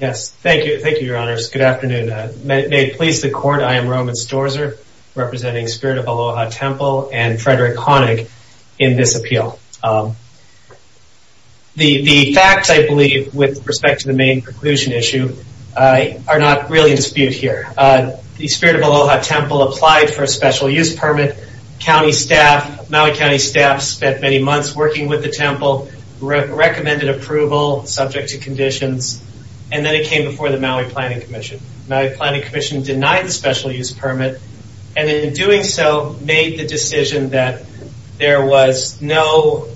May it please the court, I am Roman Storzer, representing Spirit of Aloha Temple and Frederick Honig in this appeal. The facts, I believe, with respect to the main preclusion issue, are not really in dispute here. The Spirit of Aloha Temple applied for a special use permit. Maui County staff spent many months working with the temple, recommended approval subject to conditions, and then it came before the Maui Planning Commission. The Maui Planning Commission denied the special use permit, and in doing so, made the decision that there was no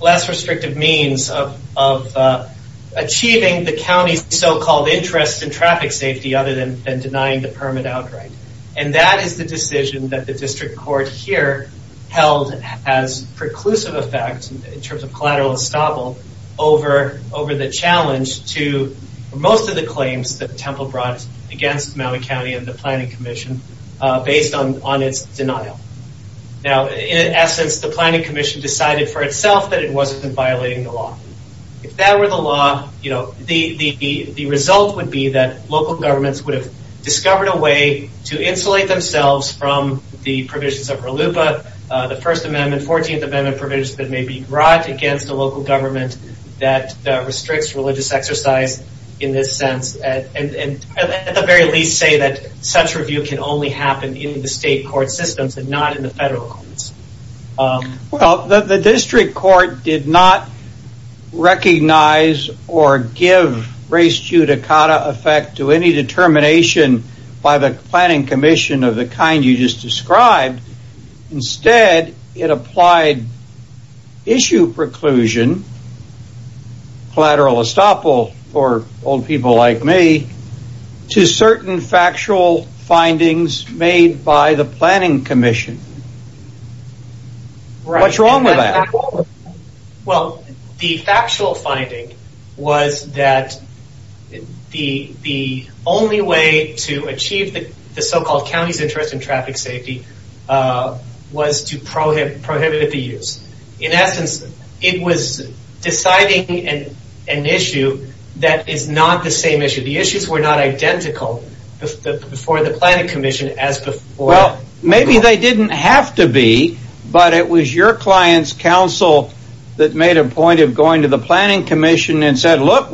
less restrictive means of achieving the county's so-called interest in traffic safety other than denying the permit outright. And that is the decision that the district court here held as preclusive effect, in terms of collateral estoppel, over the challenge to most of the claims that the temple brought against Maui County and the Planning Commission based on its denial. Now, in essence, the Planning Commission decided for itself that it wasn't violating the law. If that were the law, the result would be that local governments would have discovered a way to insulate themselves from the provisions of RLUPA, the First Amendment, 14th Amendment provisions that may be brought against a local government that restricts religious exercise in this sense. And at the very least say that such review can only happen in the state court systems and not in the federal courts. Well, the district court did not recognize or give race judicata effect to any determination by the Planning Commission of the kind you just described. Instead, it applied issue preclusion, collateral estoppel for old people like me, to certain factual findings made by the Planning Commission. What's wrong with that? Well, the factual finding was that the only way to achieve the so-called county's interest in traffic safety was to prohibit the use. In essence, it was deciding an issue that is not the same issue. The issues were not identical before the Planning Commission as before... Well, maybe they didn't have to be, but it was your client's counsel that made a point of going to the Planning Commission and said, What's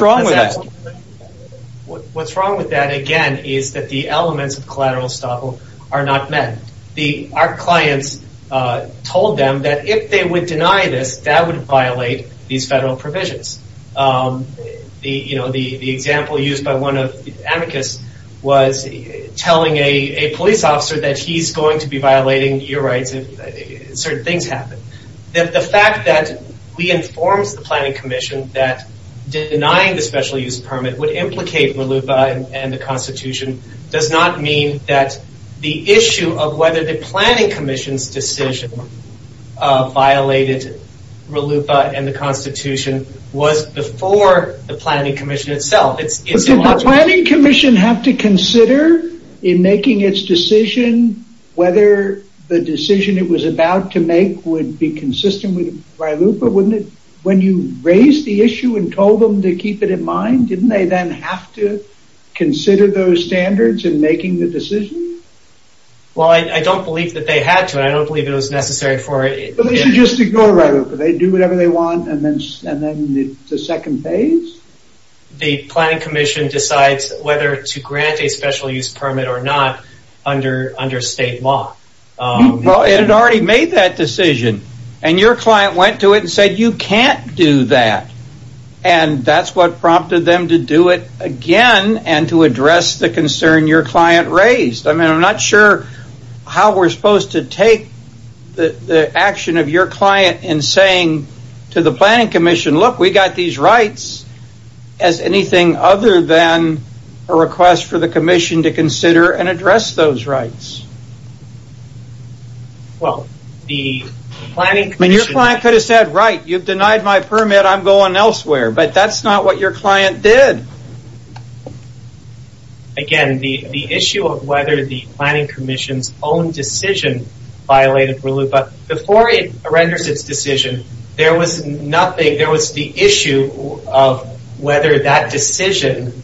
wrong with that? What's wrong with that, again, is that the elements of collateral estoppel are not met. Our clients told them that if they would deny this, that would violate these federal provisions. The example used by one of the advocates was telling a police officer that he's going to be violating your rights if certain things happen. The fact that we informed the Planning Commission that denying the special use permit would implicate RLUIPA and the Constitution does not mean that the issue of whether the Planning Commission's decision violated RLUIPA and the Constitution was before the Planning Commission itself. Did the Planning Commission have to consider in making its decision whether the decision it was about to make would be consistent with RLUIPA? When you raised the issue and told them to keep it in mind, didn't they then have to consider those standards in making the decision? Well, I don't believe that they had to, and I don't believe it was necessary for... They should just ignore RLUIPA. They do whatever they want, and then it's a second phase? The Planning Commission decides whether to grant a special use permit or not under state law. It had already made that decision, and your client went to it and said, you can't do that. That's what prompted them to do it again and to address the concern your client raised. I'm not sure how we're supposed to take the action of your client in saying to the Planning Commission, look, we got these rights as anything other than a request for the Commission to consider and address those rights. Well, the Planning Commission... Your client could have said, right, you've denied my permit, I'm going elsewhere, but that's not what your client did. Again, the issue of whether the Planning Commission's own decision violated RLUIPA, before it renders its decision, there was nothing... There was the issue of whether that decision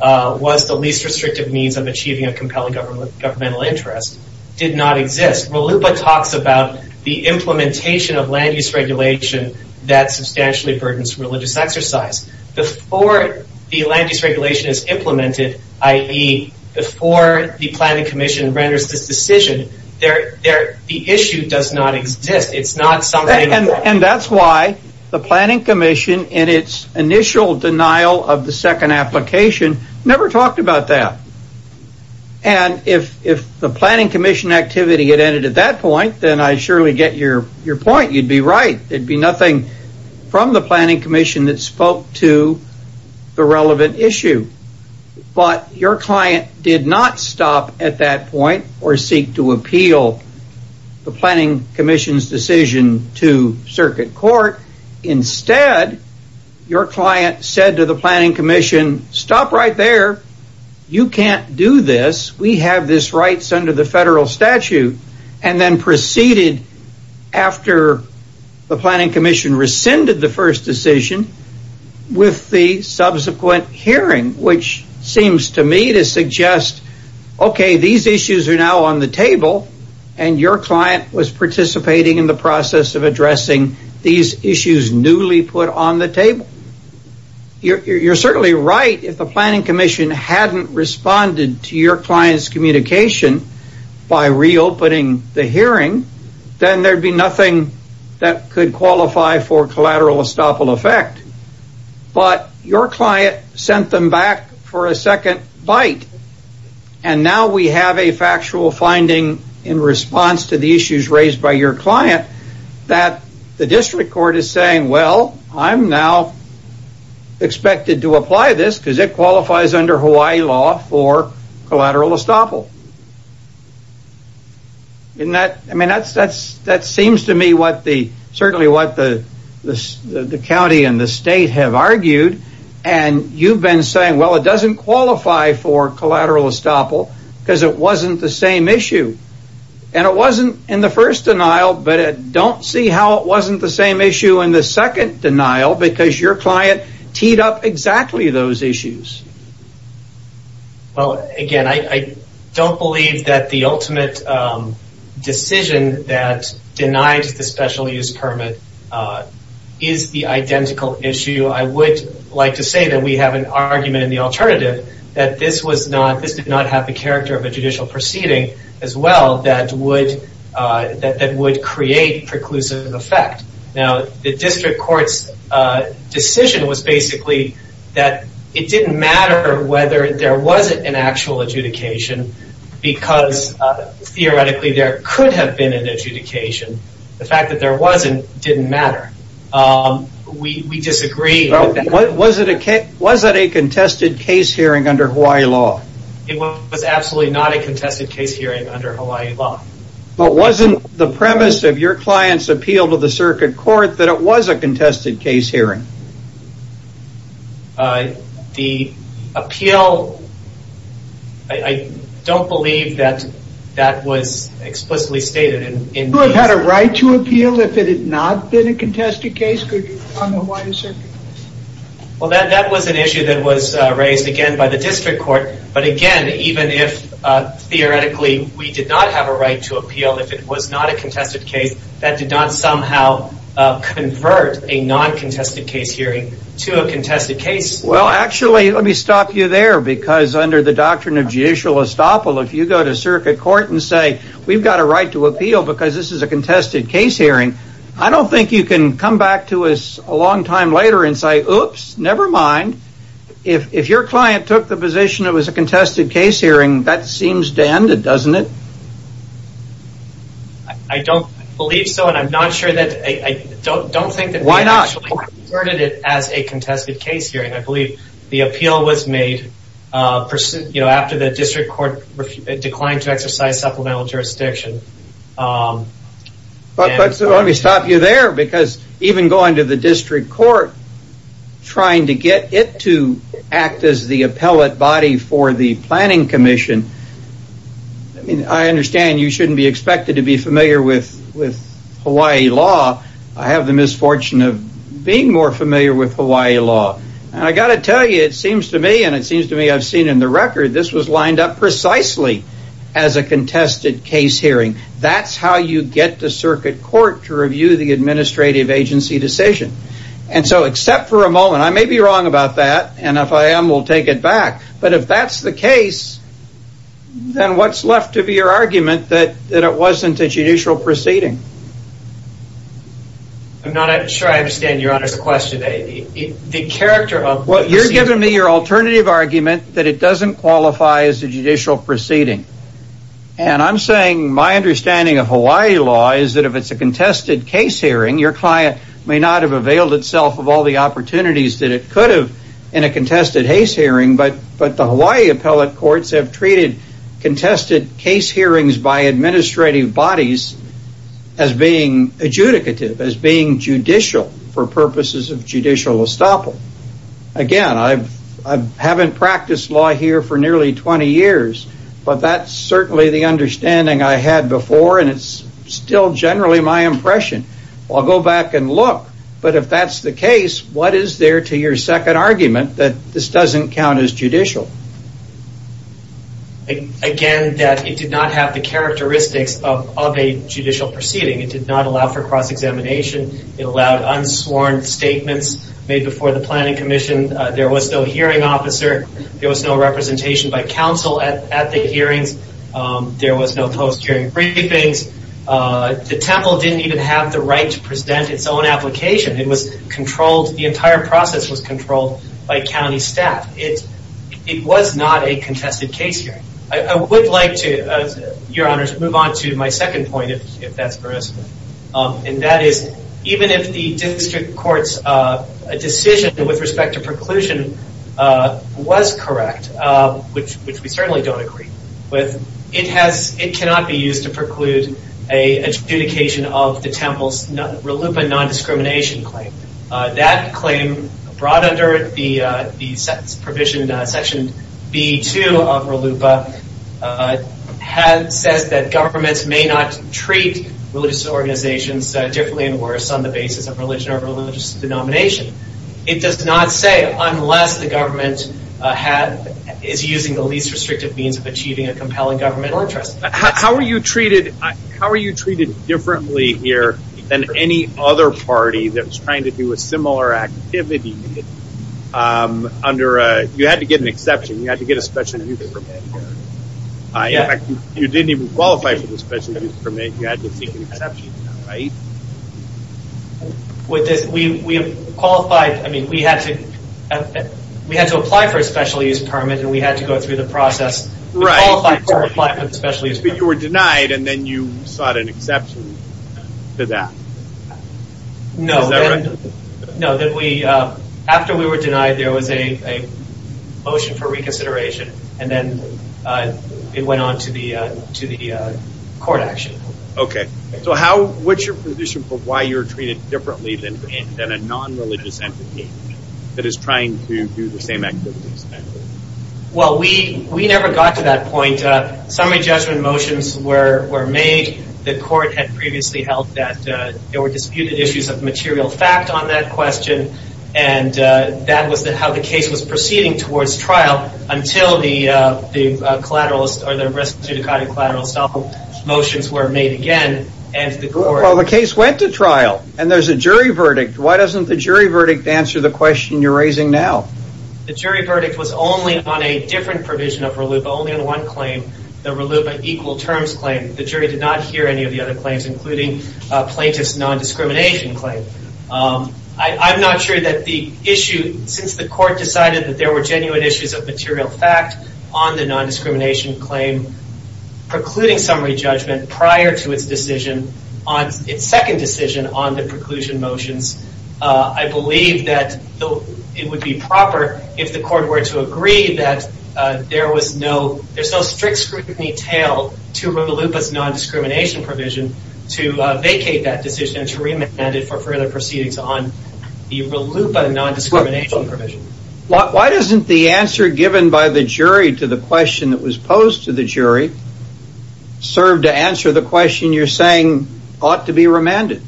was the least restrictive means of achieving a compelling governmental interest did not exist. RLUIPA talks about the implementation of land-use regulation that substantially burdens religious exercise. Before the land-use regulation is implemented, i.e., before the Planning Commission renders this decision, the issue does not exist. It's not something... And that's why the Planning Commission, in its initial denial of the second application, never talked about that. And if the Planning Commission activity had ended at that point, then I surely get your point. You'd be right. There'd be nothing from the Planning Commission that spoke to the relevant issue. But your client did not stop at that point or seek to appeal the Planning Commission's decision to circuit court. Instead, your client said to the Planning Commission, stop right there. You can't do this. We have these rights under the federal statute. And then proceeded, after the Planning Commission rescinded the first decision, with the subsequent hearing, which seems to me to suggest, okay, these issues are now on the table, and your client was participating in the process of addressing these issues newly put on the table. You're certainly right if the Planning Commission hadn't responded to your client's communication by reopening the hearing, then there'd be nothing that could qualify for collateral estoppel effect. But your client sent them back for a second bite. And now we have a factual finding in response to the issues raised by your client that the district court is saying, well, I'm now expected to apply this because it qualifies under Hawaii law for collateral estoppel. I mean, that seems to me certainly what the county and the state have argued. And you've been saying, well, it doesn't qualify for collateral estoppel because it wasn't the same issue. And it wasn't in the first denial, but I don't see how it wasn't the same issue in the second denial because your client teed up exactly those issues. Well, again, I don't believe that the ultimate decision that denies the special use permit is the identical issue. I would like to say that we have an argument in the alternative that this did not have the character of a judicial proceeding as well that would create preclusive effect. Now, the district court's decision was basically that it didn't matter whether there wasn't an actual adjudication because theoretically there could have been an adjudication. The fact that there wasn't didn't matter. We disagree. Was it a contested case hearing under Hawaii law? It was absolutely not a contested case hearing under Hawaii law. But wasn't the premise of your client's appeal to the circuit court that it was a contested case hearing? The appeal, I don't believe that that was explicitly stated. You would have had a right to appeal if it had not been a contested case on the Hawaiian circuit. Well, that was an issue that was raised again by the district court. But again, even if theoretically we did not have a right to appeal if it was not a contested case, that did not somehow convert a non-contested case hearing to a contested case. Well, actually, let me stop you there because under the doctrine of judicial estoppel, if you go to circuit court and say we've got a right to appeal because this is a contested case hearing, I don't think you can come back to us a long time later and say, oops, never mind, if your client took the position it was a contested case hearing, that seems to end it, doesn't it? I don't believe so, and I'm not sure that, I don't think that we actually converted it as a contested case hearing. I believe the appeal was made after the district court declined to exercise supplemental jurisdiction. But let me stop you there because even going to the district court, trying to get it to act as the appellate body for the planning commission, I understand you shouldn't be expected to be familiar with Hawaii law. I have the misfortune of being more familiar with Hawaii law. I've got to tell you, it seems to me, and it seems to me I've seen in the record, this was lined up precisely as a contested case hearing. That's how you get to circuit court to review the administrative agency decision. And so except for a moment, I may be wrong about that, and if I am, we'll take it back, but if that's the case, then what's left to be your argument that it wasn't a judicial proceeding? I'm not sure I understand your honor's question. You're giving me your alternative argument that it doesn't qualify as a judicial proceeding. And I'm saying my understanding of Hawaii law is that if it's a contested case hearing, your client may not have availed itself of all the opportunities that it could have in a contested case hearing, but the Hawaii appellate courts have treated contested case hearings by administrative bodies as being adjudicative, as being judicial for purposes of judicial estoppel. Again, I haven't practiced law here for nearly 20 years, but that's certainly the understanding I had before, and it's still generally my impression. I'll go back and look, but if that's the case, what is there to your second argument that this doesn't count as judicial? Again, that it did not have the characteristics of a judicial proceeding. It did not allow for cross-examination. It allowed unsworn statements made before the planning commission. There was no hearing officer. There was no representation by counsel at the hearings. There was no post-hearing briefings. The temple didn't even have the right to present its own application. It was controlled, the entire process was controlled by county staff. It was not a contested case hearing. I would like to, Your Honors, move on to my second point, if that's permissible, and that is even if the district court's decision with respect to preclusion was correct, which we certainly don't agree with, it cannot be used to preclude an adjudication of the temple's RLUIPA non-discrimination claim. That claim, brought under the provision in section B-2 of RLUIPA, says that governments may not treat religious organizations differently and worse on the basis of religion or religious denomination. It does not say unless the government is using the least restrictive means of achieving a compelling governmental interest. How were you treated differently here than any other party that was trying to do a similar activity? You had to get an exception. You had to get a special use permit. You didn't even qualify for the special use permit. You had to seek an exception, right? We had to apply for a special use permit, and we had to go through the process. But you were denied, and then you sought an exception to that. No. Is that right? No. After we were denied, there was a motion for reconsideration, and then it went on to the court action. Okay. What's your position for why you're treated differently than a non-religious entity that is trying to do the same activities? Well, we never got to that point. Summary judgment motions were made. The court had previously held that there were disputed issues of material fact on that question, and that was how the case was proceeding towards trial until the collateralist or the res judicata collateralist motions were made again. Well, the case went to trial, and there's a jury verdict. Why doesn't the jury verdict answer the question you're raising now? The jury verdict was only on a different provision of RLUIPA, only on one claim, the RLUIPA equal terms claim. The jury did not hear any of the other claims, including plaintiff's nondiscrimination claim. I'm not sure that the issue, since the court decided that there were genuine issues of material fact on the nondiscrimination claim, precluding summary judgment prior to its decision, its second decision on the preclusion motions, I believe that it would be proper if the court were to agree that there's no strict scrutiny tail to RLUIPA's nondiscrimination provision to vacate that decision and to remand it for further proceedings on the RLUIPA nondiscrimination provision. Why doesn't the answer given by the jury to the question that was posed to the jury serve to answer the question you're saying ought to be remanded?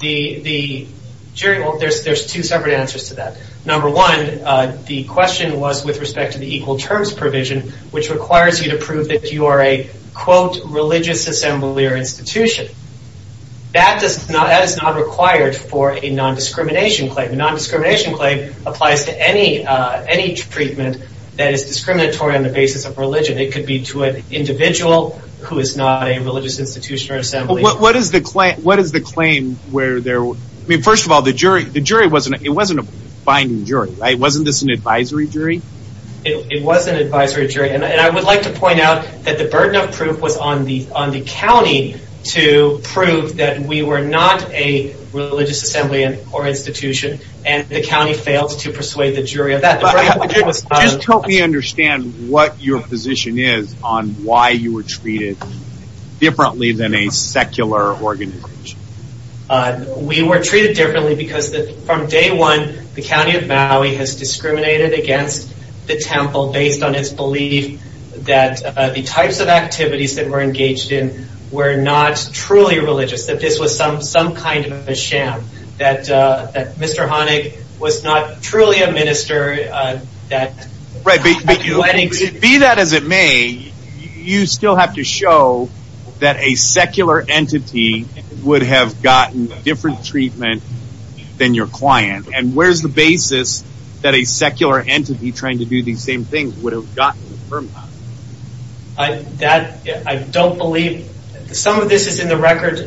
The jury, well, there's two separate answers to that. Number one, the question was with respect to the equal terms provision, which requires you to prove that you are a, quote, religious assembly or institution. That is not required for a nondiscrimination claim. A nondiscrimination claim applies to any treatment that is discriminatory on the basis of religion. It could be to an individual who is not a religious institution or assembly. What is the claim where there, I mean, first of all, the jury, it wasn't a binding jury, right? Wasn't this an advisory jury? It was an advisory jury. And I would like to point out that the burden of proof was on the county to prove that we were not a religious assembly or institution. And the county failed to persuade the jury of that. Just help me understand what your position is on why you were treated differently than a secular organization. We were treated differently because from day one, the county of Maui has discriminated against the temple based on its belief that the types of activities that were engaged in were not truly religious, that this was some kind of a sham, that Mr. Honig was not truly a minister. Right. Be that as it may, you still have to show that a secular entity would have gotten different treatment than your client. And where's the basis that a secular entity trying to do these same things would have gotten? I don't believe some of this is in the record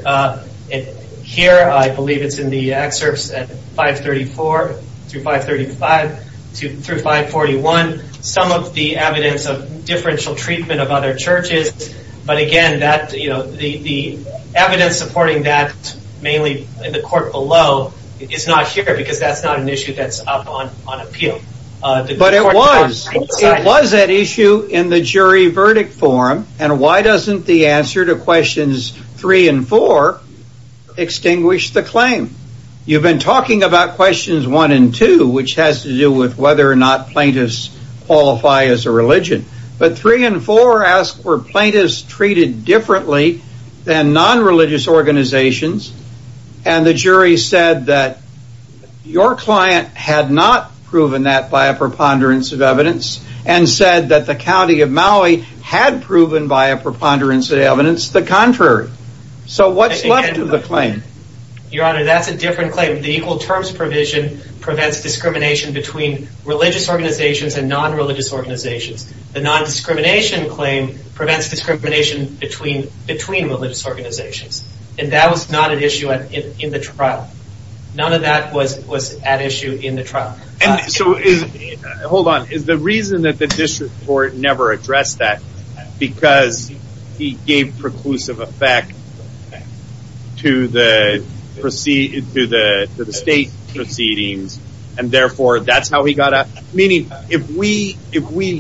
here. I believe it's in the excerpts at 534 through 535 through 541. Some of the evidence of differential treatment of other churches. But again, the evidence supporting that mainly in the court below is not here because that's not an issue that's up on appeal. But it was. It was an issue in the jury verdict forum. And why doesn't the answer to questions three and four extinguish the claim? You've been talking about questions one and two, which has to do with whether or not plaintiffs qualify as a religion. But three and four ask were plaintiffs treated differently than non-religious organizations. And the jury said that your client had not proven that by a preponderance of evidence. And said that the county of Maui had proven by a preponderance of evidence the contrary. So what's left of the claim? Your Honor, that's a different claim. The equal terms provision prevents discrimination between religious organizations and non-religious organizations. The non-discrimination claim prevents discrimination between religious organizations. And that was not an issue in the trial. None of that was at issue in the trial. Hold on. Is the reason that the district court never addressed that because he gave preclusive effect to the state proceedings? And therefore, that's how he got out? Meaning, if we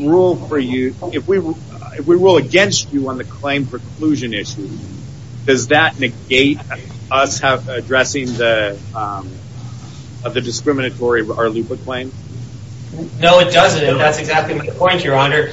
rule for you, if we rule against you on the claim preclusion issue, does that negate us addressing the discriminatory Arlupa claim? No, it doesn't. That's exactly my point, Your Honor.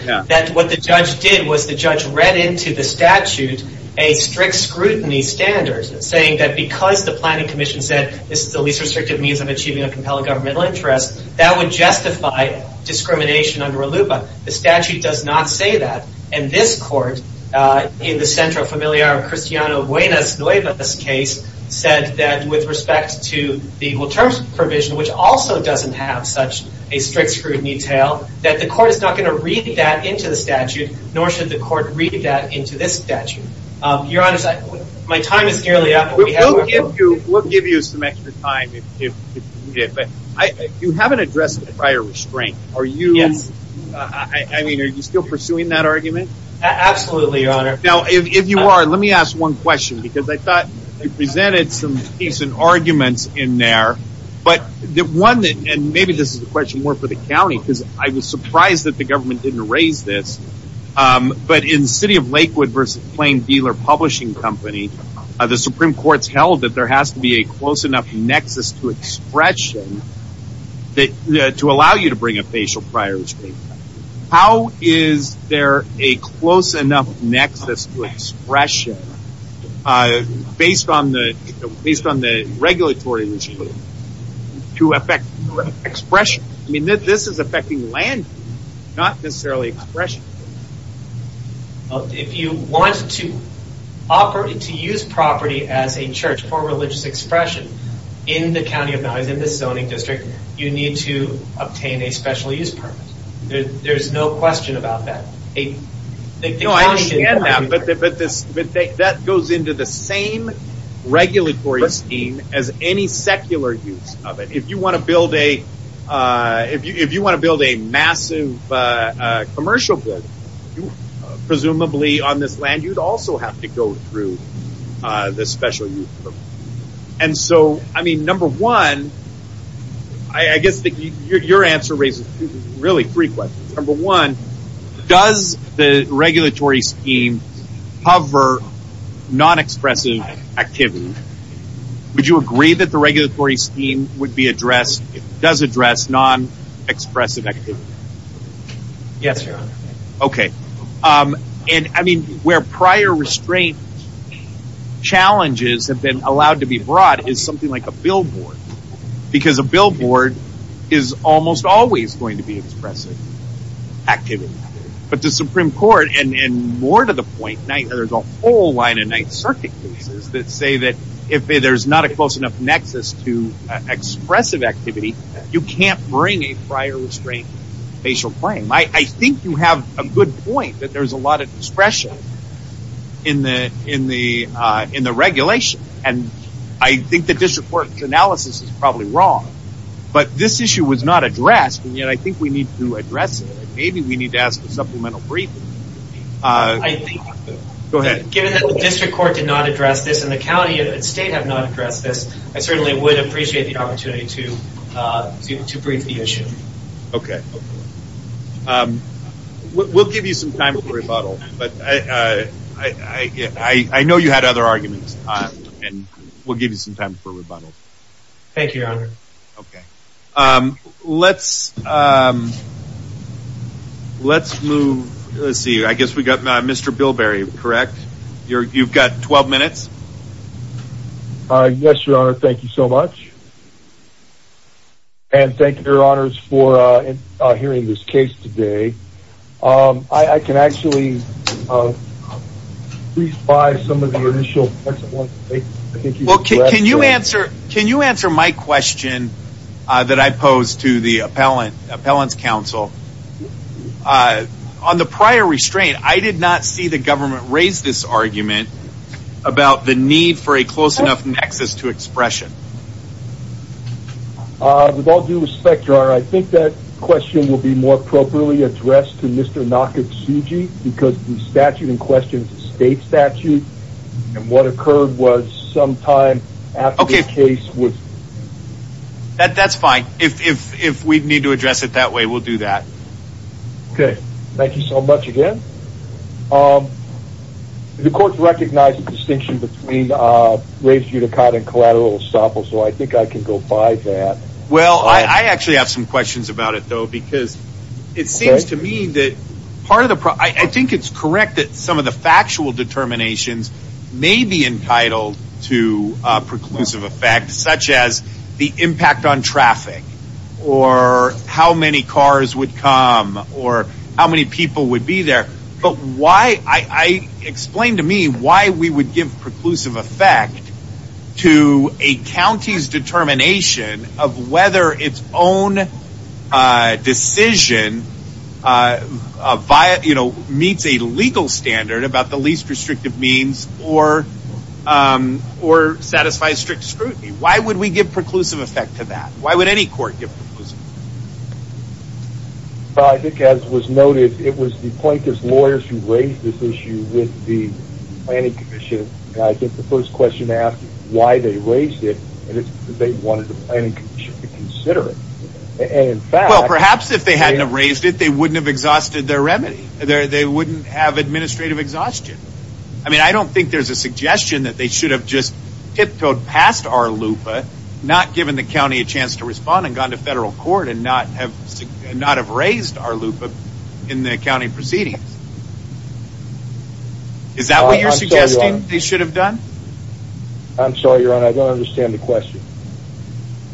What the judge did was the judge read into the statute a strict scrutiny standard, saying that because the planning commission said this is the least restrictive means of achieving a compelling governmental interest, that would justify discrimination under Arlupa. The statute does not say that. And this court, in the Centro Familiar Cristiano Buenas Nuevas case, said that with respect to the equal terms provision, which also doesn't have such a strict scrutiny detail, that the court is not going to read that into the statute, nor should the court read that into this statute. Your Honor, my time is nearly up. We'll give you some extra time if you need it. You haven't addressed the prior restraint. Yes. I mean, are you still pursuing that argument? Absolutely, Your Honor. Now, if you are, let me ask one question, because I thought you presented some decent arguments in there. But one, and maybe this is a question more for the county, because I was surprised that the government didn't raise this, but in City of Lakewood v. Plain Dealer Publishing Company, the Supreme Court's held that there has to be a close enough nexus to expression to allow you to bring a facial prior restraint. How is there a close enough nexus to expression, based on the regulatory regime, to affect expression? I mean, this is affecting land use, not necessarily expression. If you want to use property as a church for religious expression in the county of Mounds, in the zoning district, you need to obtain a special use permit. There's no question about that. No, I understand that, but that goes into the same regulatory scheme as any secular use of it. If you want to build a massive commercial building, presumably on this land, you'd also have to go through the special use permit. And so, I mean, number one, I guess your answer raises really three questions. Number one, does the regulatory scheme cover non-expressive activity? Would you agree that the regulatory scheme does address non-expressive activity? Yes, Your Honor. Okay. And, I mean, where prior restraint challenges have been allowed to be brought is something like a billboard, because a billboard is almost always going to be expressive activity. But the Supreme Court, and more to the point, there's a whole line of Ninth Circuit cases that say that if there's not a close enough nexus to expressive activity, you can't bring a prior restraint facial claim. I think you have a good point that there's a lot of expression in the regulation. And I think the district court's analysis is probably wrong. But this issue was not addressed, and yet I think we need to address it. Maybe we need to ask a supplemental brief. Go ahead. Given that the district court did not address this and the county and state have not addressed this, I certainly would appreciate the opportunity to brief the issue. Okay. We'll give you some time for rebuttal. But I know you had other arguments, and we'll give you some time for rebuttal. Thank you, Your Honor. Okay. Let's move. Let's see. I guess we've got Mr. Bilberry, correct? You've got 12 minutes. Yes, Your Honor. Thank you so much. And thank you, Your Honors, for hearing this case today. I can actually please buy some of the initial text. Well, can you answer my question that I posed to the appellant's counsel? On the prior restraint, I did not see the government raise this argument about the need for a close enough nexus to expression. With all due respect, Your Honor, I think that question will be more appropriately addressed to Mr. Nakatsugi because the statute in question is a state statute, and what occurred was sometime after the case was ---- That's fine. If we need to address it that way, we'll do that. Okay. Thank you so much again. The court recognized the distinction between raised unicod and collateral estoppel, so I think I can go by that. Well, I actually have some questions about it, though, because it seems to me that part of the problem ---- I think it's correct that some of the factual determinations may be entitled to preclusive effect, such as the impact on traffic or how many cars would come or how many people would be there. Explain to me why we would give preclusive effect to a county's determination of whether its own decision meets a legal standard about the least restrictive means or satisfies strict scrutiny. Why would we give preclusive effect to that? Why would any court give preclusive effect? Well, I think as was noted, it was the plaintiff's lawyers who raised this issue with the planning commission, and I think the first question to ask is why they raised it, and it's because they wanted the planning commission to consider it. And in fact ---- Well, perhaps if they hadn't have raised it, they wouldn't have exhausted their remedy. They wouldn't have administrative exhaustion. I mean, I don't think there's a suggestion that they should have just tiptoed past our LUPA, not given the county a chance to respond and gone to federal court and not have raised our LUPA in the county proceedings. Is that what you're suggesting they should have done? I'm sorry, Your Honor, I don't understand the question.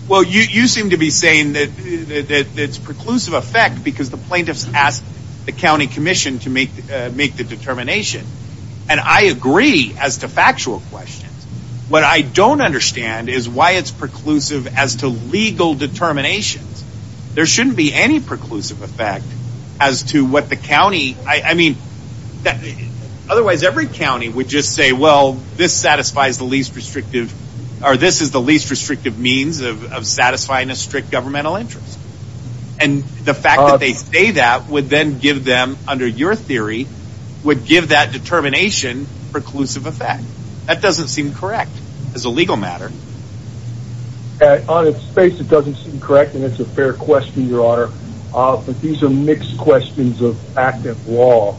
Well, you seem to be saying that it's preclusive effect because the plaintiffs asked the county commission to make the determination, and I agree as to factual questions. What I don't understand is why it's preclusive as to legal determinations. There shouldn't be any preclusive effect as to what the county ---- I mean, otherwise every county would just say, well, this satisfies the least restrictive or this is the least restrictive means of satisfying a strict governmental interest. And the fact that they say that would then give them, under your theory, would give that determination preclusive effect. That doesn't seem correct as a legal matter. On its face, it doesn't seem correct, and it's a fair question, Your Honor. But these are mixed questions of active law,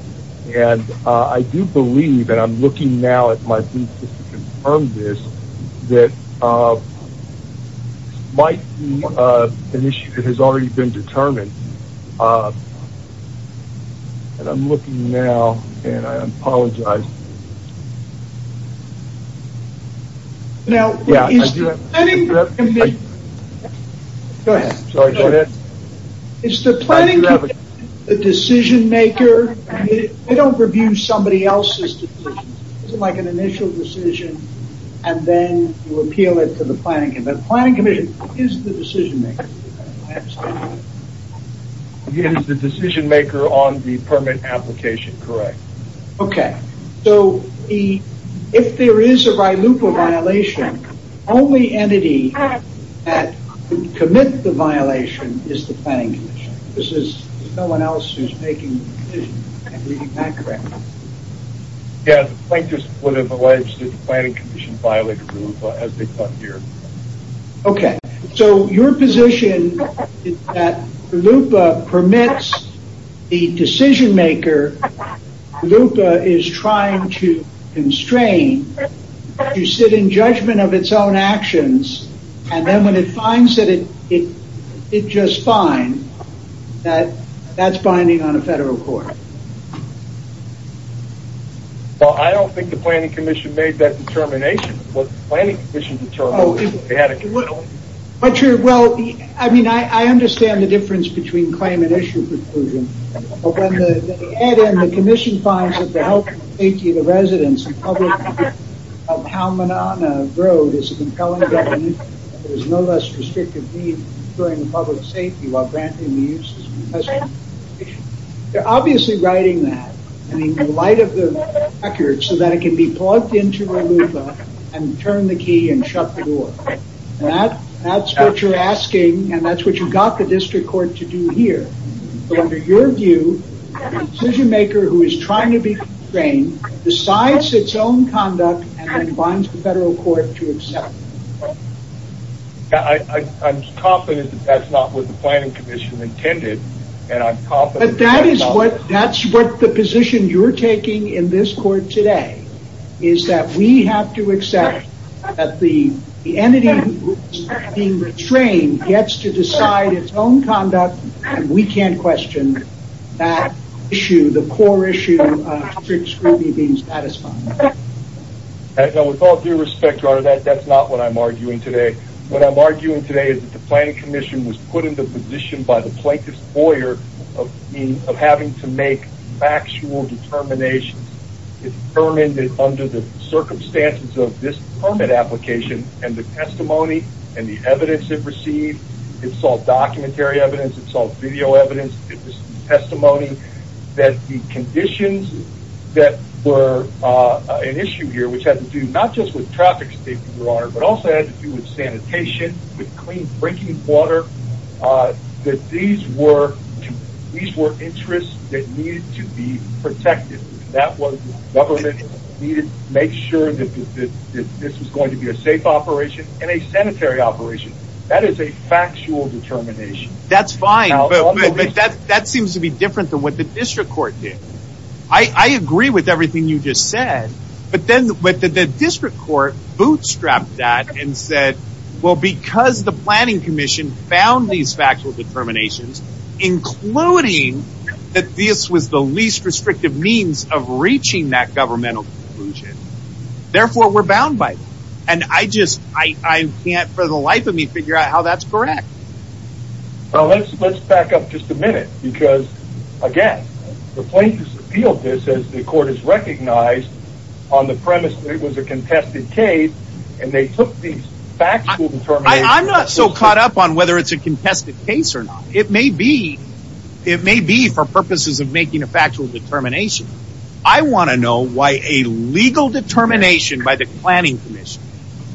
and I do believe, and I'm looking now at my briefs to confirm this, that this might be an issue that has already been determined. And I'm looking now, and I apologize. Now, is the planning commission the decision maker? They don't review somebody else's decisions. It's like an initial decision, and then you appeal it to the planning commission. The planning commission is the decision maker. Is the decision maker on the permit application correct? Okay. So, if there is a RILUPA violation, the only entity that could commit the violation is the planning commission. There's no one else who's making the decision. Is that correct? Yeah, the plaintiffs would have alleged that the planning commission violated RILUPA as they come here. Okay. So, your position is that RILUPA permits the decision maker. RILUPA is trying to constrain. You sit in judgment of its own actions, and then when it finds that it did just fine, that's binding on a federal court. Well, I don't think the planning commission made that determination. What the planning commission determined is they had a conclusion. Well, I mean, I understand the difference between claim and issue preclusion. But when they add in the commission finds that the health and safety of the residents and public of Palmenana Road is an impelling government, there's no less restrictive need during public safety while granting the uses. They're obviously writing that in the light of the record so that it can be plugged into RILUPA and turn the key and shut the door. That's what you're asking, and that's what you got the district court to do here. So, under your view, the decision maker who is trying to be constrained decides its own conduct and then binds the federal court to accept. I'm confident that that's not what the planning commission intended, and I'm confident... But that is what, that's what the position you're taking in this court today is that we have to accept that the entity being restrained gets to decide its own conduct, and we can't question that issue, the core issue of strict scrutiny being satisfied. With all due respect, Your Honor, that's not what I'm arguing today. What I'm arguing today is that the planning commission was put in the position by the plaintiff's lawyer of having to make factual determinations. It determined that under the circumstances of this permit application and the testimony and the evidence it received, it saw documentary evidence, it saw video evidence, testimony, that the conditions that were an issue here, which had to do not just with traffic safety, Your Honor, but also had to do with sanitation, with clean drinking water, that these were interests that needed to be protected. That was, government needed to make sure that this was going to be a safe operation and a sanitary operation. That is a factual determination. That's fine, but that seems to be different than what the district court did. I agree with everything you just said, but then the district court bootstrapped that and said, well, because the planning commission found these factual determinations, including that this was the least restrictive means of reaching that governmental conclusion, therefore we're bound by them. And I just, I can't for the life of me figure out how that's correct. Well, let's back up just a minute, because, again, the plaintiff's appealed this as the court has recognized on the premise that it was a contested case, and they took these factual determinations. I'm not so caught up on whether it's a contested case or not. It may be. It may be for purposes of making a factual determination. I want to know why a legal determination by the planning commission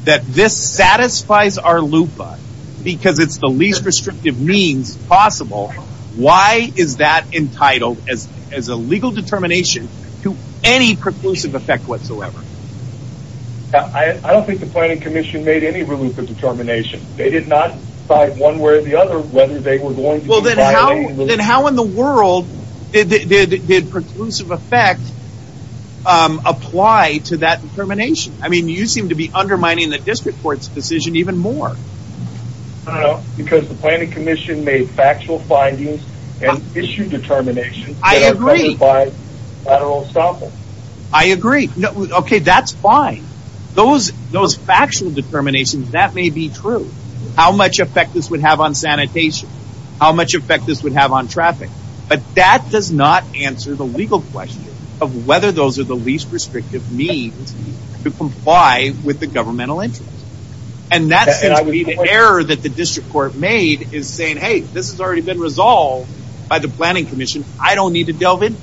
that this satisfies our LUPA because it's the least restrictive means possible, why is that entitled as a legal determination to any preclusive effect whatsoever? I don't think the planning commission made any LUPA determination. They did not decide one way or the other whether they were going to do that. Then how in the world did preclusive effect apply to that determination? I mean, you seem to be undermining the district court's decision even more. I don't know, because the planning commission made factual findings and issued determinations that are measured by lateral estoppel. I agree. Okay, that's fine. Those factual determinations, that may be true. How much effect this would have on sanitation? How much effect this would have on traffic? But that does not answer the legal question of whether those are the least restrictive means to comply with the governmental interest. And that seems to be the error that the district court made, is saying, hey, this has already been resolved by the planning commission. I don't need to delve into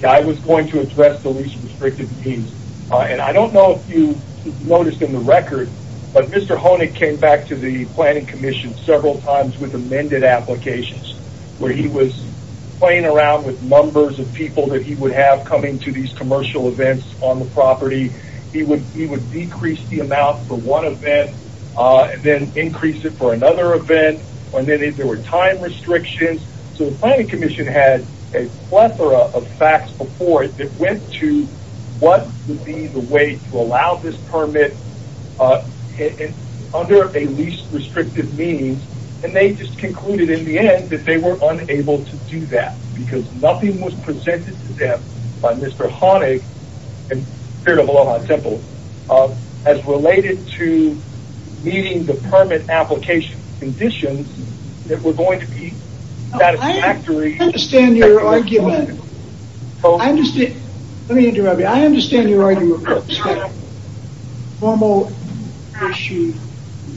it. I was going to address the least restrictive means, and I don't know if you noticed in the record, but Mr. Honig came back to the planning commission several times with amended applications, where he was playing around with numbers of people that he would have coming to these commercial events on the property. He would decrease the amount for one event and then increase it for another event. And then there were time restrictions. So the planning commission had a plethora of facts before it that went to what would be the way to allow this permit under a least restrictive means, and they just concluded in the end that they were unable to do that because nothing was presented to them by Mr. Honig, in spirit of Aloha Temple, as related to meeting the permit application conditions that were going to be satisfactory. I understand your argument. I understand. Let me interrupt you. I understand your argument. Formal issue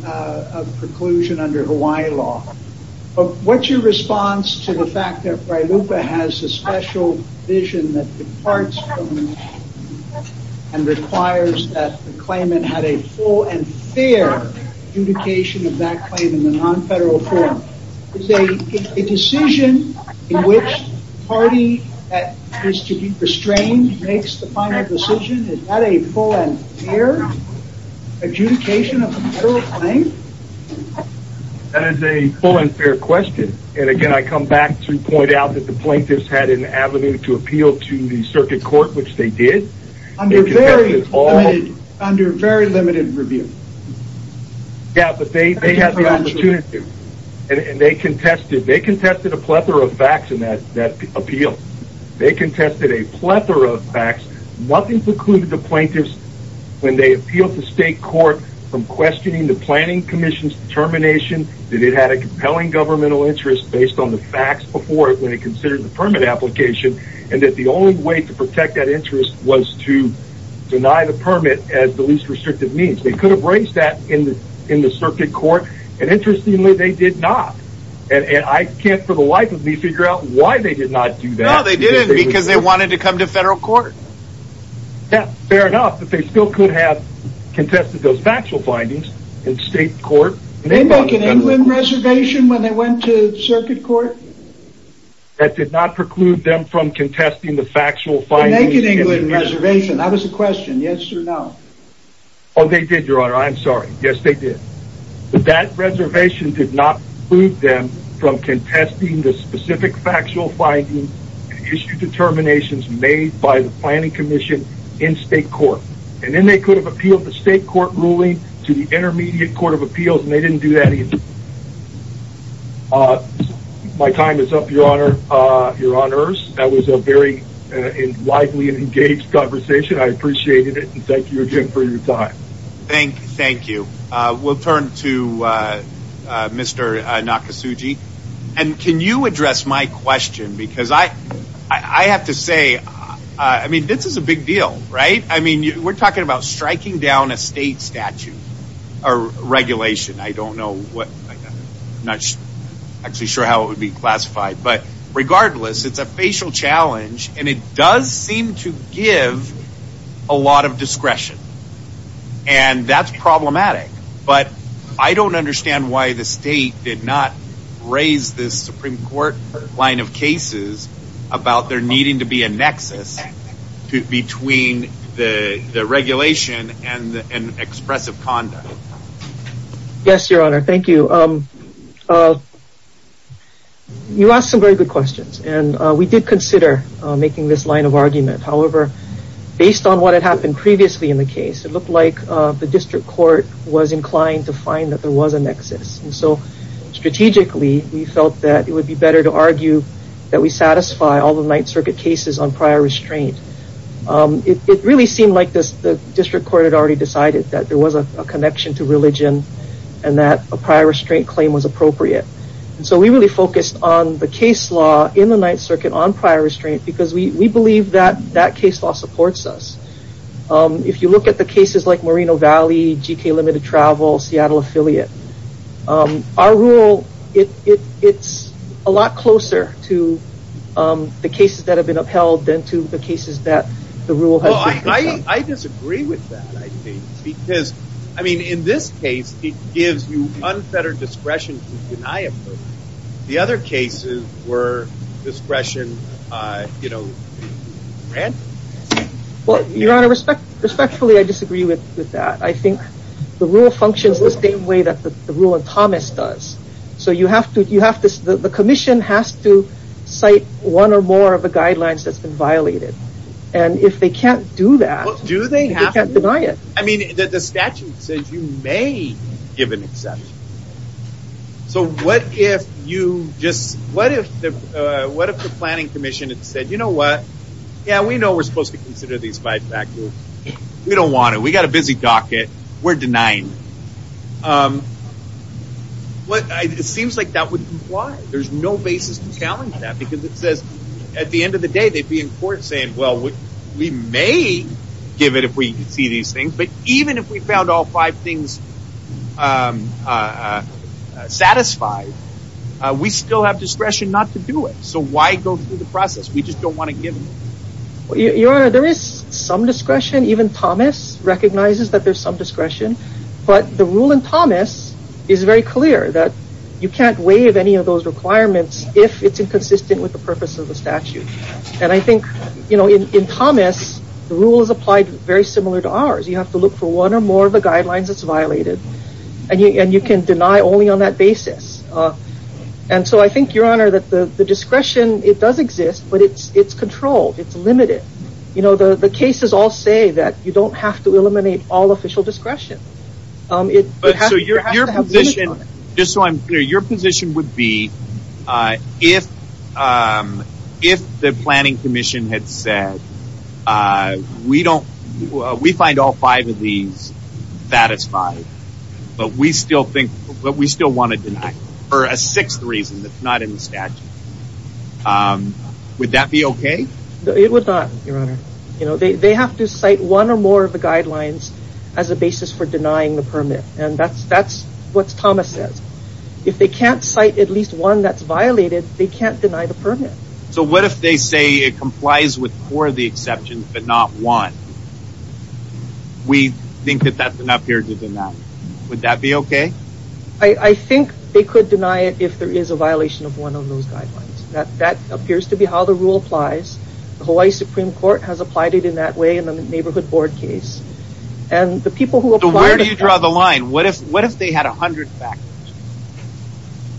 of preclusion under Hawaii law. But what's your response to the fact that PRILUPA has a special vision that departs from the mission and requires that the claimant had a full and fair adjudication of that claim in the non-federal form? A decision in which the party that is to be restrained makes the final decision, is that a full and fair adjudication of a federal claim? That is a full and fair question. And again, I come back to point out that the plaintiffs had an avenue to appeal to the circuit court, which they did. Under very limited review. Yeah, but they had the opportunity. And they contested. They contested a plethora of facts in that appeal. They contested a plethora of facts. Nothing precluded the plaintiffs, when they appealed to state court, from questioning the planning commission's determination that it had a compelling governmental interest based on the facts before it when it considered the permit application, and that the only way to protect that interest was to deny the permit as the least restrictive means. They could have raised that in the circuit court. And interestingly, they did not. And I can't for the life of me figure out why they did not do that. No, they didn't, because they wanted to come to federal court. Yeah, fair enough. But they still could have contested those factual findings in state court. Did they make an England reservation when they went to circuit court? That did not preclude them from contesting the factual findings. Did they make an England reservation? That was the question. Yes or no? Oh, they did, Your Honor. I'm sorry. Yes, they did. But that reservation did not preclude them from contesting the specific factual findings and issue determinations made by the planning commission in state court. And then they could have appealed the state court ruling to the intermediate court of appeals, and they didn't do that either. My time is up, Your Honors. That was a very lively and engaged conversation. I appreciated it. And thank you again for your time. Thank you. We'll turn to Mr. Nakasugi. And can you address my question? Because I have to say, I mean, this is a big deal, right? I mean, we're talking about striking down a state statute or regulation. I don't know what – I'm not actually sure how it would be classified. But regardless, it's a facial challenge, and it does seem to give a lot of discretion. And that's problematic. But I don't understand why the state did not raise this Supreme Court line of cases about there needing to be a nexus between the regulation and expressive conduct. Yes, Your Honor. Thank you. You asked some very good questions. And we did consider making this line of argument. However, based on what had happened previously in the case, it looked like the district court was inclined to find that there was a nexus. And so strategically, we felt that it would be better to argue that we satisfy all the Ninth Circuit cases on prior restraint. It really seemed like the district court had already decided that there was a connection to religion and that a prior restraint claim was appropriate. And so we really focused on the case law in the Ninth Circuit on prior restraint because we believe that that case law supports us. If you look at the cases like Moreno Valley, GK Limited Travel, Seattle Affiliate, our rule, it's a lot closer to the cases that have been upheld than to the cases that the rule has been upheld. I disagree with that, I think, because, I mean, in this case, it gives you unfettered discretion to deny a vote. The other cases were discretion, you know, granted. Well, Your Honor, respectfully, I disagree with that. I think the rule functions the same way that the rule in Thomas does. So the commission has to cite one or more of the guidelines that's been violated. And if they can't do that, they can't deny it. Well, do they have to? I mean, the statute says you may give an exception. So what if you just, what if the planning commission had said, you know what, yeah, we know we're supposed to consider these five factors. We don't want to. We've got a busy docket. We're denying. It seems like that would comply. There's no basis to challenge that because it says, at the end of the day, they'd be in court saying, well, we may give it if we see these things. But even if we found all five things satisfied, we still have discretion not to do it. So why go through the process? We just don't want to give it. Your Honor, there is some discretion. Even Thomas recognizes that there's some discretion. But the rule in Thomas is very clear that you can't waive any of those requirements if it's inconsistent with the purpose of the statute. And I think, you know, in Thomas, the rule is applied very similar to ours. You have to look for one or more of the guidelines that's violated. And you can deny only on that basis. And so I think, Your Honor, that the discretion, it does exist, but it's controlled. It's limited. You know, the cases all say that you don't have to eliminate all official discretion. So your position, just so I'm clear, your position would be, if the Planning Commission had said, we find all five of these satisfied, but we still want to deny for a sixth reason that's not in the statute, would that be okay? It would not, Your Honor. You know, they have to cite one or more of the guidelines as a basis for denying the permit. And that's what Thomas says. If they can't cite at least one that's violated, they can't deny the permit. So what if they say it complies with four of the exceptions but not one? We think that that's enough here to deny. Would that be okay? I think they could deny it if there is a violation of one of those guidelines. That appears to be how the rule applies. The Hawaii Supreme Court has applied it in that way in the Neighborhood Board case. So where do you draw the line? What if they had 100 factors?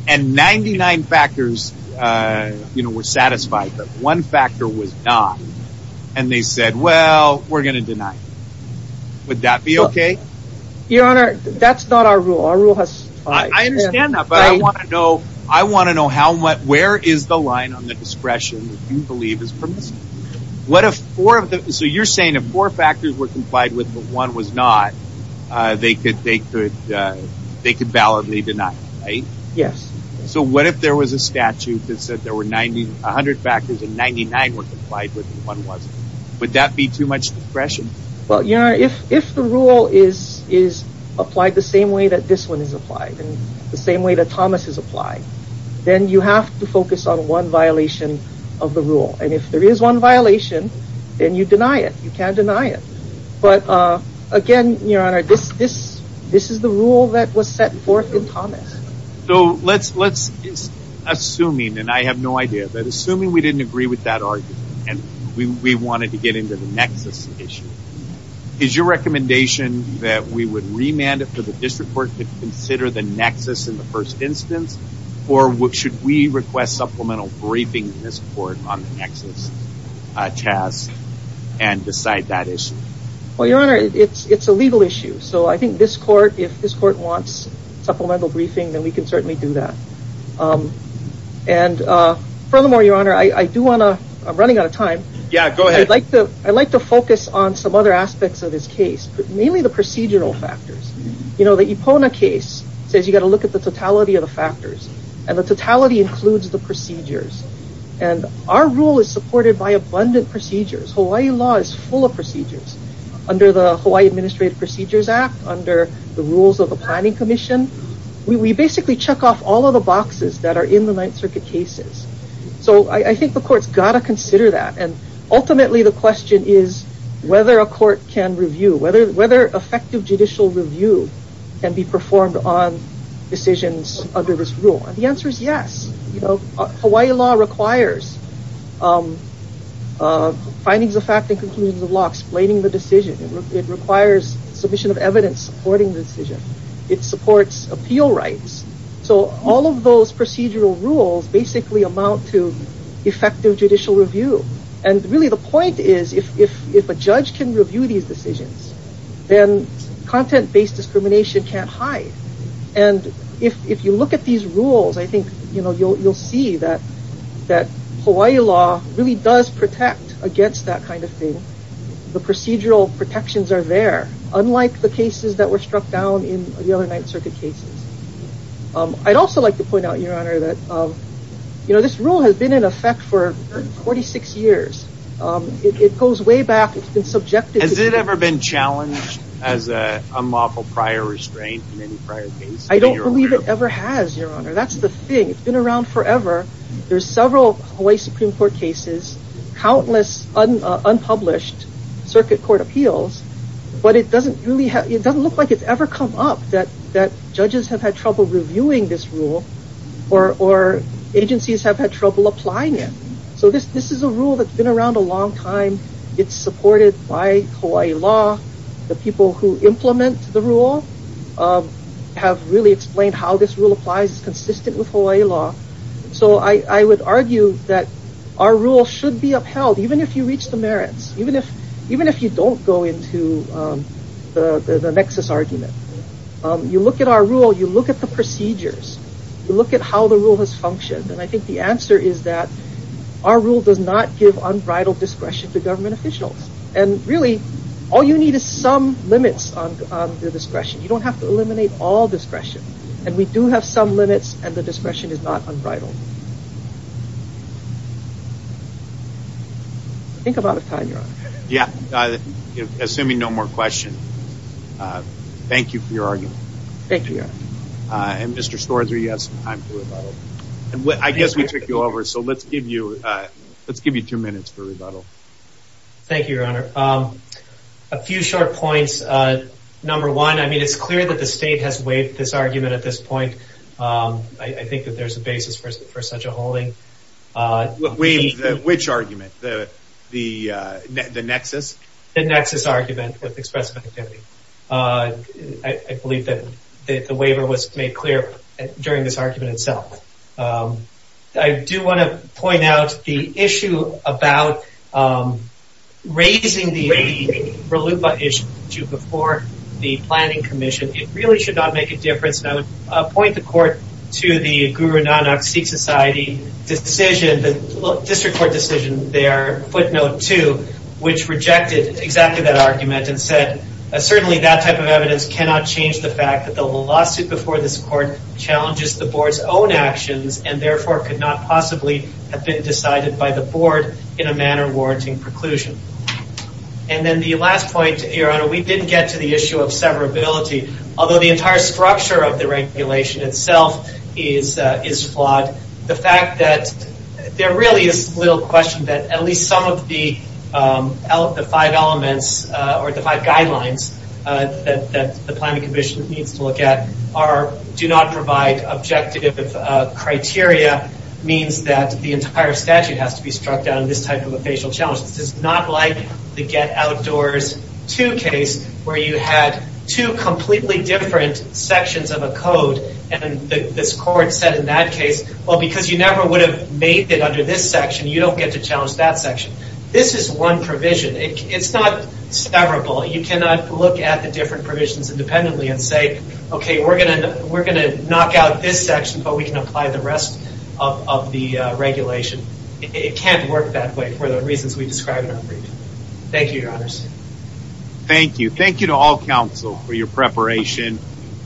And 99 factors were satisfied, but one factor was not. And they said, well, we're going to deny. Would that be okay? Your Honor, that's not our rule. Our rule has five. I understand that, but I want to know where is the line on the discretion that you believe is permissible? So you're saying if four factors were complied with but one was not, they could validly deny it, right? Yes. So what if there was a statute that said there were 100 factors and 99 were complied with and one wasn't? Would that be too much discretion? Well, Your Honor, if the rule is applied the same way that this one is applied and the same way that Thomas has applied, then you have to focus on one violation of the rule. And if there is one violation, then you deny it. You can't deny it. But again, Your Honor, this is the rule that was set forth in Thomas. So assuming, and I have no idea, but assuming we didn't agree with that argument and we wanted to get into the nexus issue, is your recommendation that we would remand it for the district court to consider the nexus in the first instance? Or should we request supplemental briefing in this court on the nexus task and decide that issue? Well, Your Honor, it's a legal issue. So I think this court, if this court wants supplemental briefing, then we can certainly do that. And furthermore, Your Honor, I do want to, I'm running out of time. Yeah, go ahead. I'd like to focus on some other aspects of this case, but mainly the procedural factors. You know, the Ipona case says you've got to look at the totality of the factors. And the totality includes the procedures. And our rule is supported by abundant procedures. Hawaii law is full of procedures. Under the Hawaii Administrative Procedures Act, under the rules of the Planning Commission, we basically check off all of the boxes that are in the Ninth Circuit cases. So I think the court's got to consider that. And ultimately, the question is whether a court can review, whether effective judicial review can be performed on decisions under this rule. And the answer is yes. Hawaii law requires findings of fact and conclusions of law explaining the decision. It requires submission of evidence supporting the decision. It supports appeal rights. So all of those procedural rules basically amount to effective judicial review. And really the point is if a judge can review these decisions, then content-based discrimination can't hide. And if you look at these rules, I think you'll see that Hawaii law really does protect against that kind of thing. The procedural protections are there, unlike the cases that were struck down in the other Ninth Circuit cases. I'd also like to point out, Your Honor, that this rule has been in effect for 46 years. It goes way back. It's been subjected to- As an unlawful prior restraint in any prior case. I don't believe it ever has, Your Honor. That's the thing. It's been around forever. There's several Hawaii Supreme Court cases, countless unpublished circuit court appeals, but it doesn't look like it's ever come up that judges have had trouble reviewing this rule or agencies have had trouble applying it. So this is a rule that's been around a long time. It's supported by Hawaii law. The people who implement the rule have really explained how this rule applies. It's consistent with Hawaii law. So I would argue that our rule should be upheld, even if you reach the merits. Even if you don't go into the nexus argument. You look at our rule. You look at the procedures. You look at how the rule has functioned. And I think the answer is that our rule does not give unbridled discretion to government officials. And really, all you need is some limits on the discretion. You don't have to eliminate all discretion. And we do have some limits, and the discretion is not unbridled. Think about it, Your Honor. Yeah. Assuming no more questions. Thank you for your argument. Thank you, Your Honor. And Mr. Schorzer, you have some time for rebuttal. I guess we took you over, so let's give you two minutes for rebuttal. Thank you, Your Honor. A few short points. Number one, I mean, it's clear that the state has waived this argument at this point. I think that there's a basis for such a holding. Waived which argument? The nexus? The nexus argument with expressive activity. I believe that the waiver was made clear during this argument itself. I do want to point out the issue about raising the RLUIPA issue before the planning commission. It really should not make a difference. And I would point the court to the Guru Nanak Sikh Society decision, the district court decision there, footnote two, which rejected exactly that argument and said, certainly that type of evidence cannot change the fact that the lawsuit before this court challenges the board's own actions and therefore could not possibly have been decided by the board in a manner warranting preclusion. And then the last point, Your Honor, we didn't get to the issue of severability. Although the entire structure of the regulation itself is flawed, the fact that there really is little question that at least some of the five elements or the five guidelines that the planning commission needs to look at do not provide objective criteria, means that the entire statute has to be struck down in this type of a facial challenge. This is not like the Get Outdoors Too case where you had two completely different sections of a code. And this court said in that case, well, because you never would have made it under this section, you don't get to challenge that section. This is one provision. It's not severable. You cannot look at the different provisions independently and say, okay, we're going to knock out this section, but we can apply the rest of the regulation. It can't work that way for the reasons we described in our brief. Thank you, Your Honors. Thank you. Thank you to all counsel for your preparation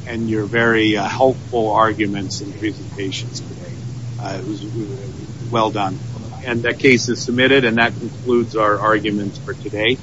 and your very helpful arguments and presentations today. It was well done. And that case is submitted and that concludes our arguments for today.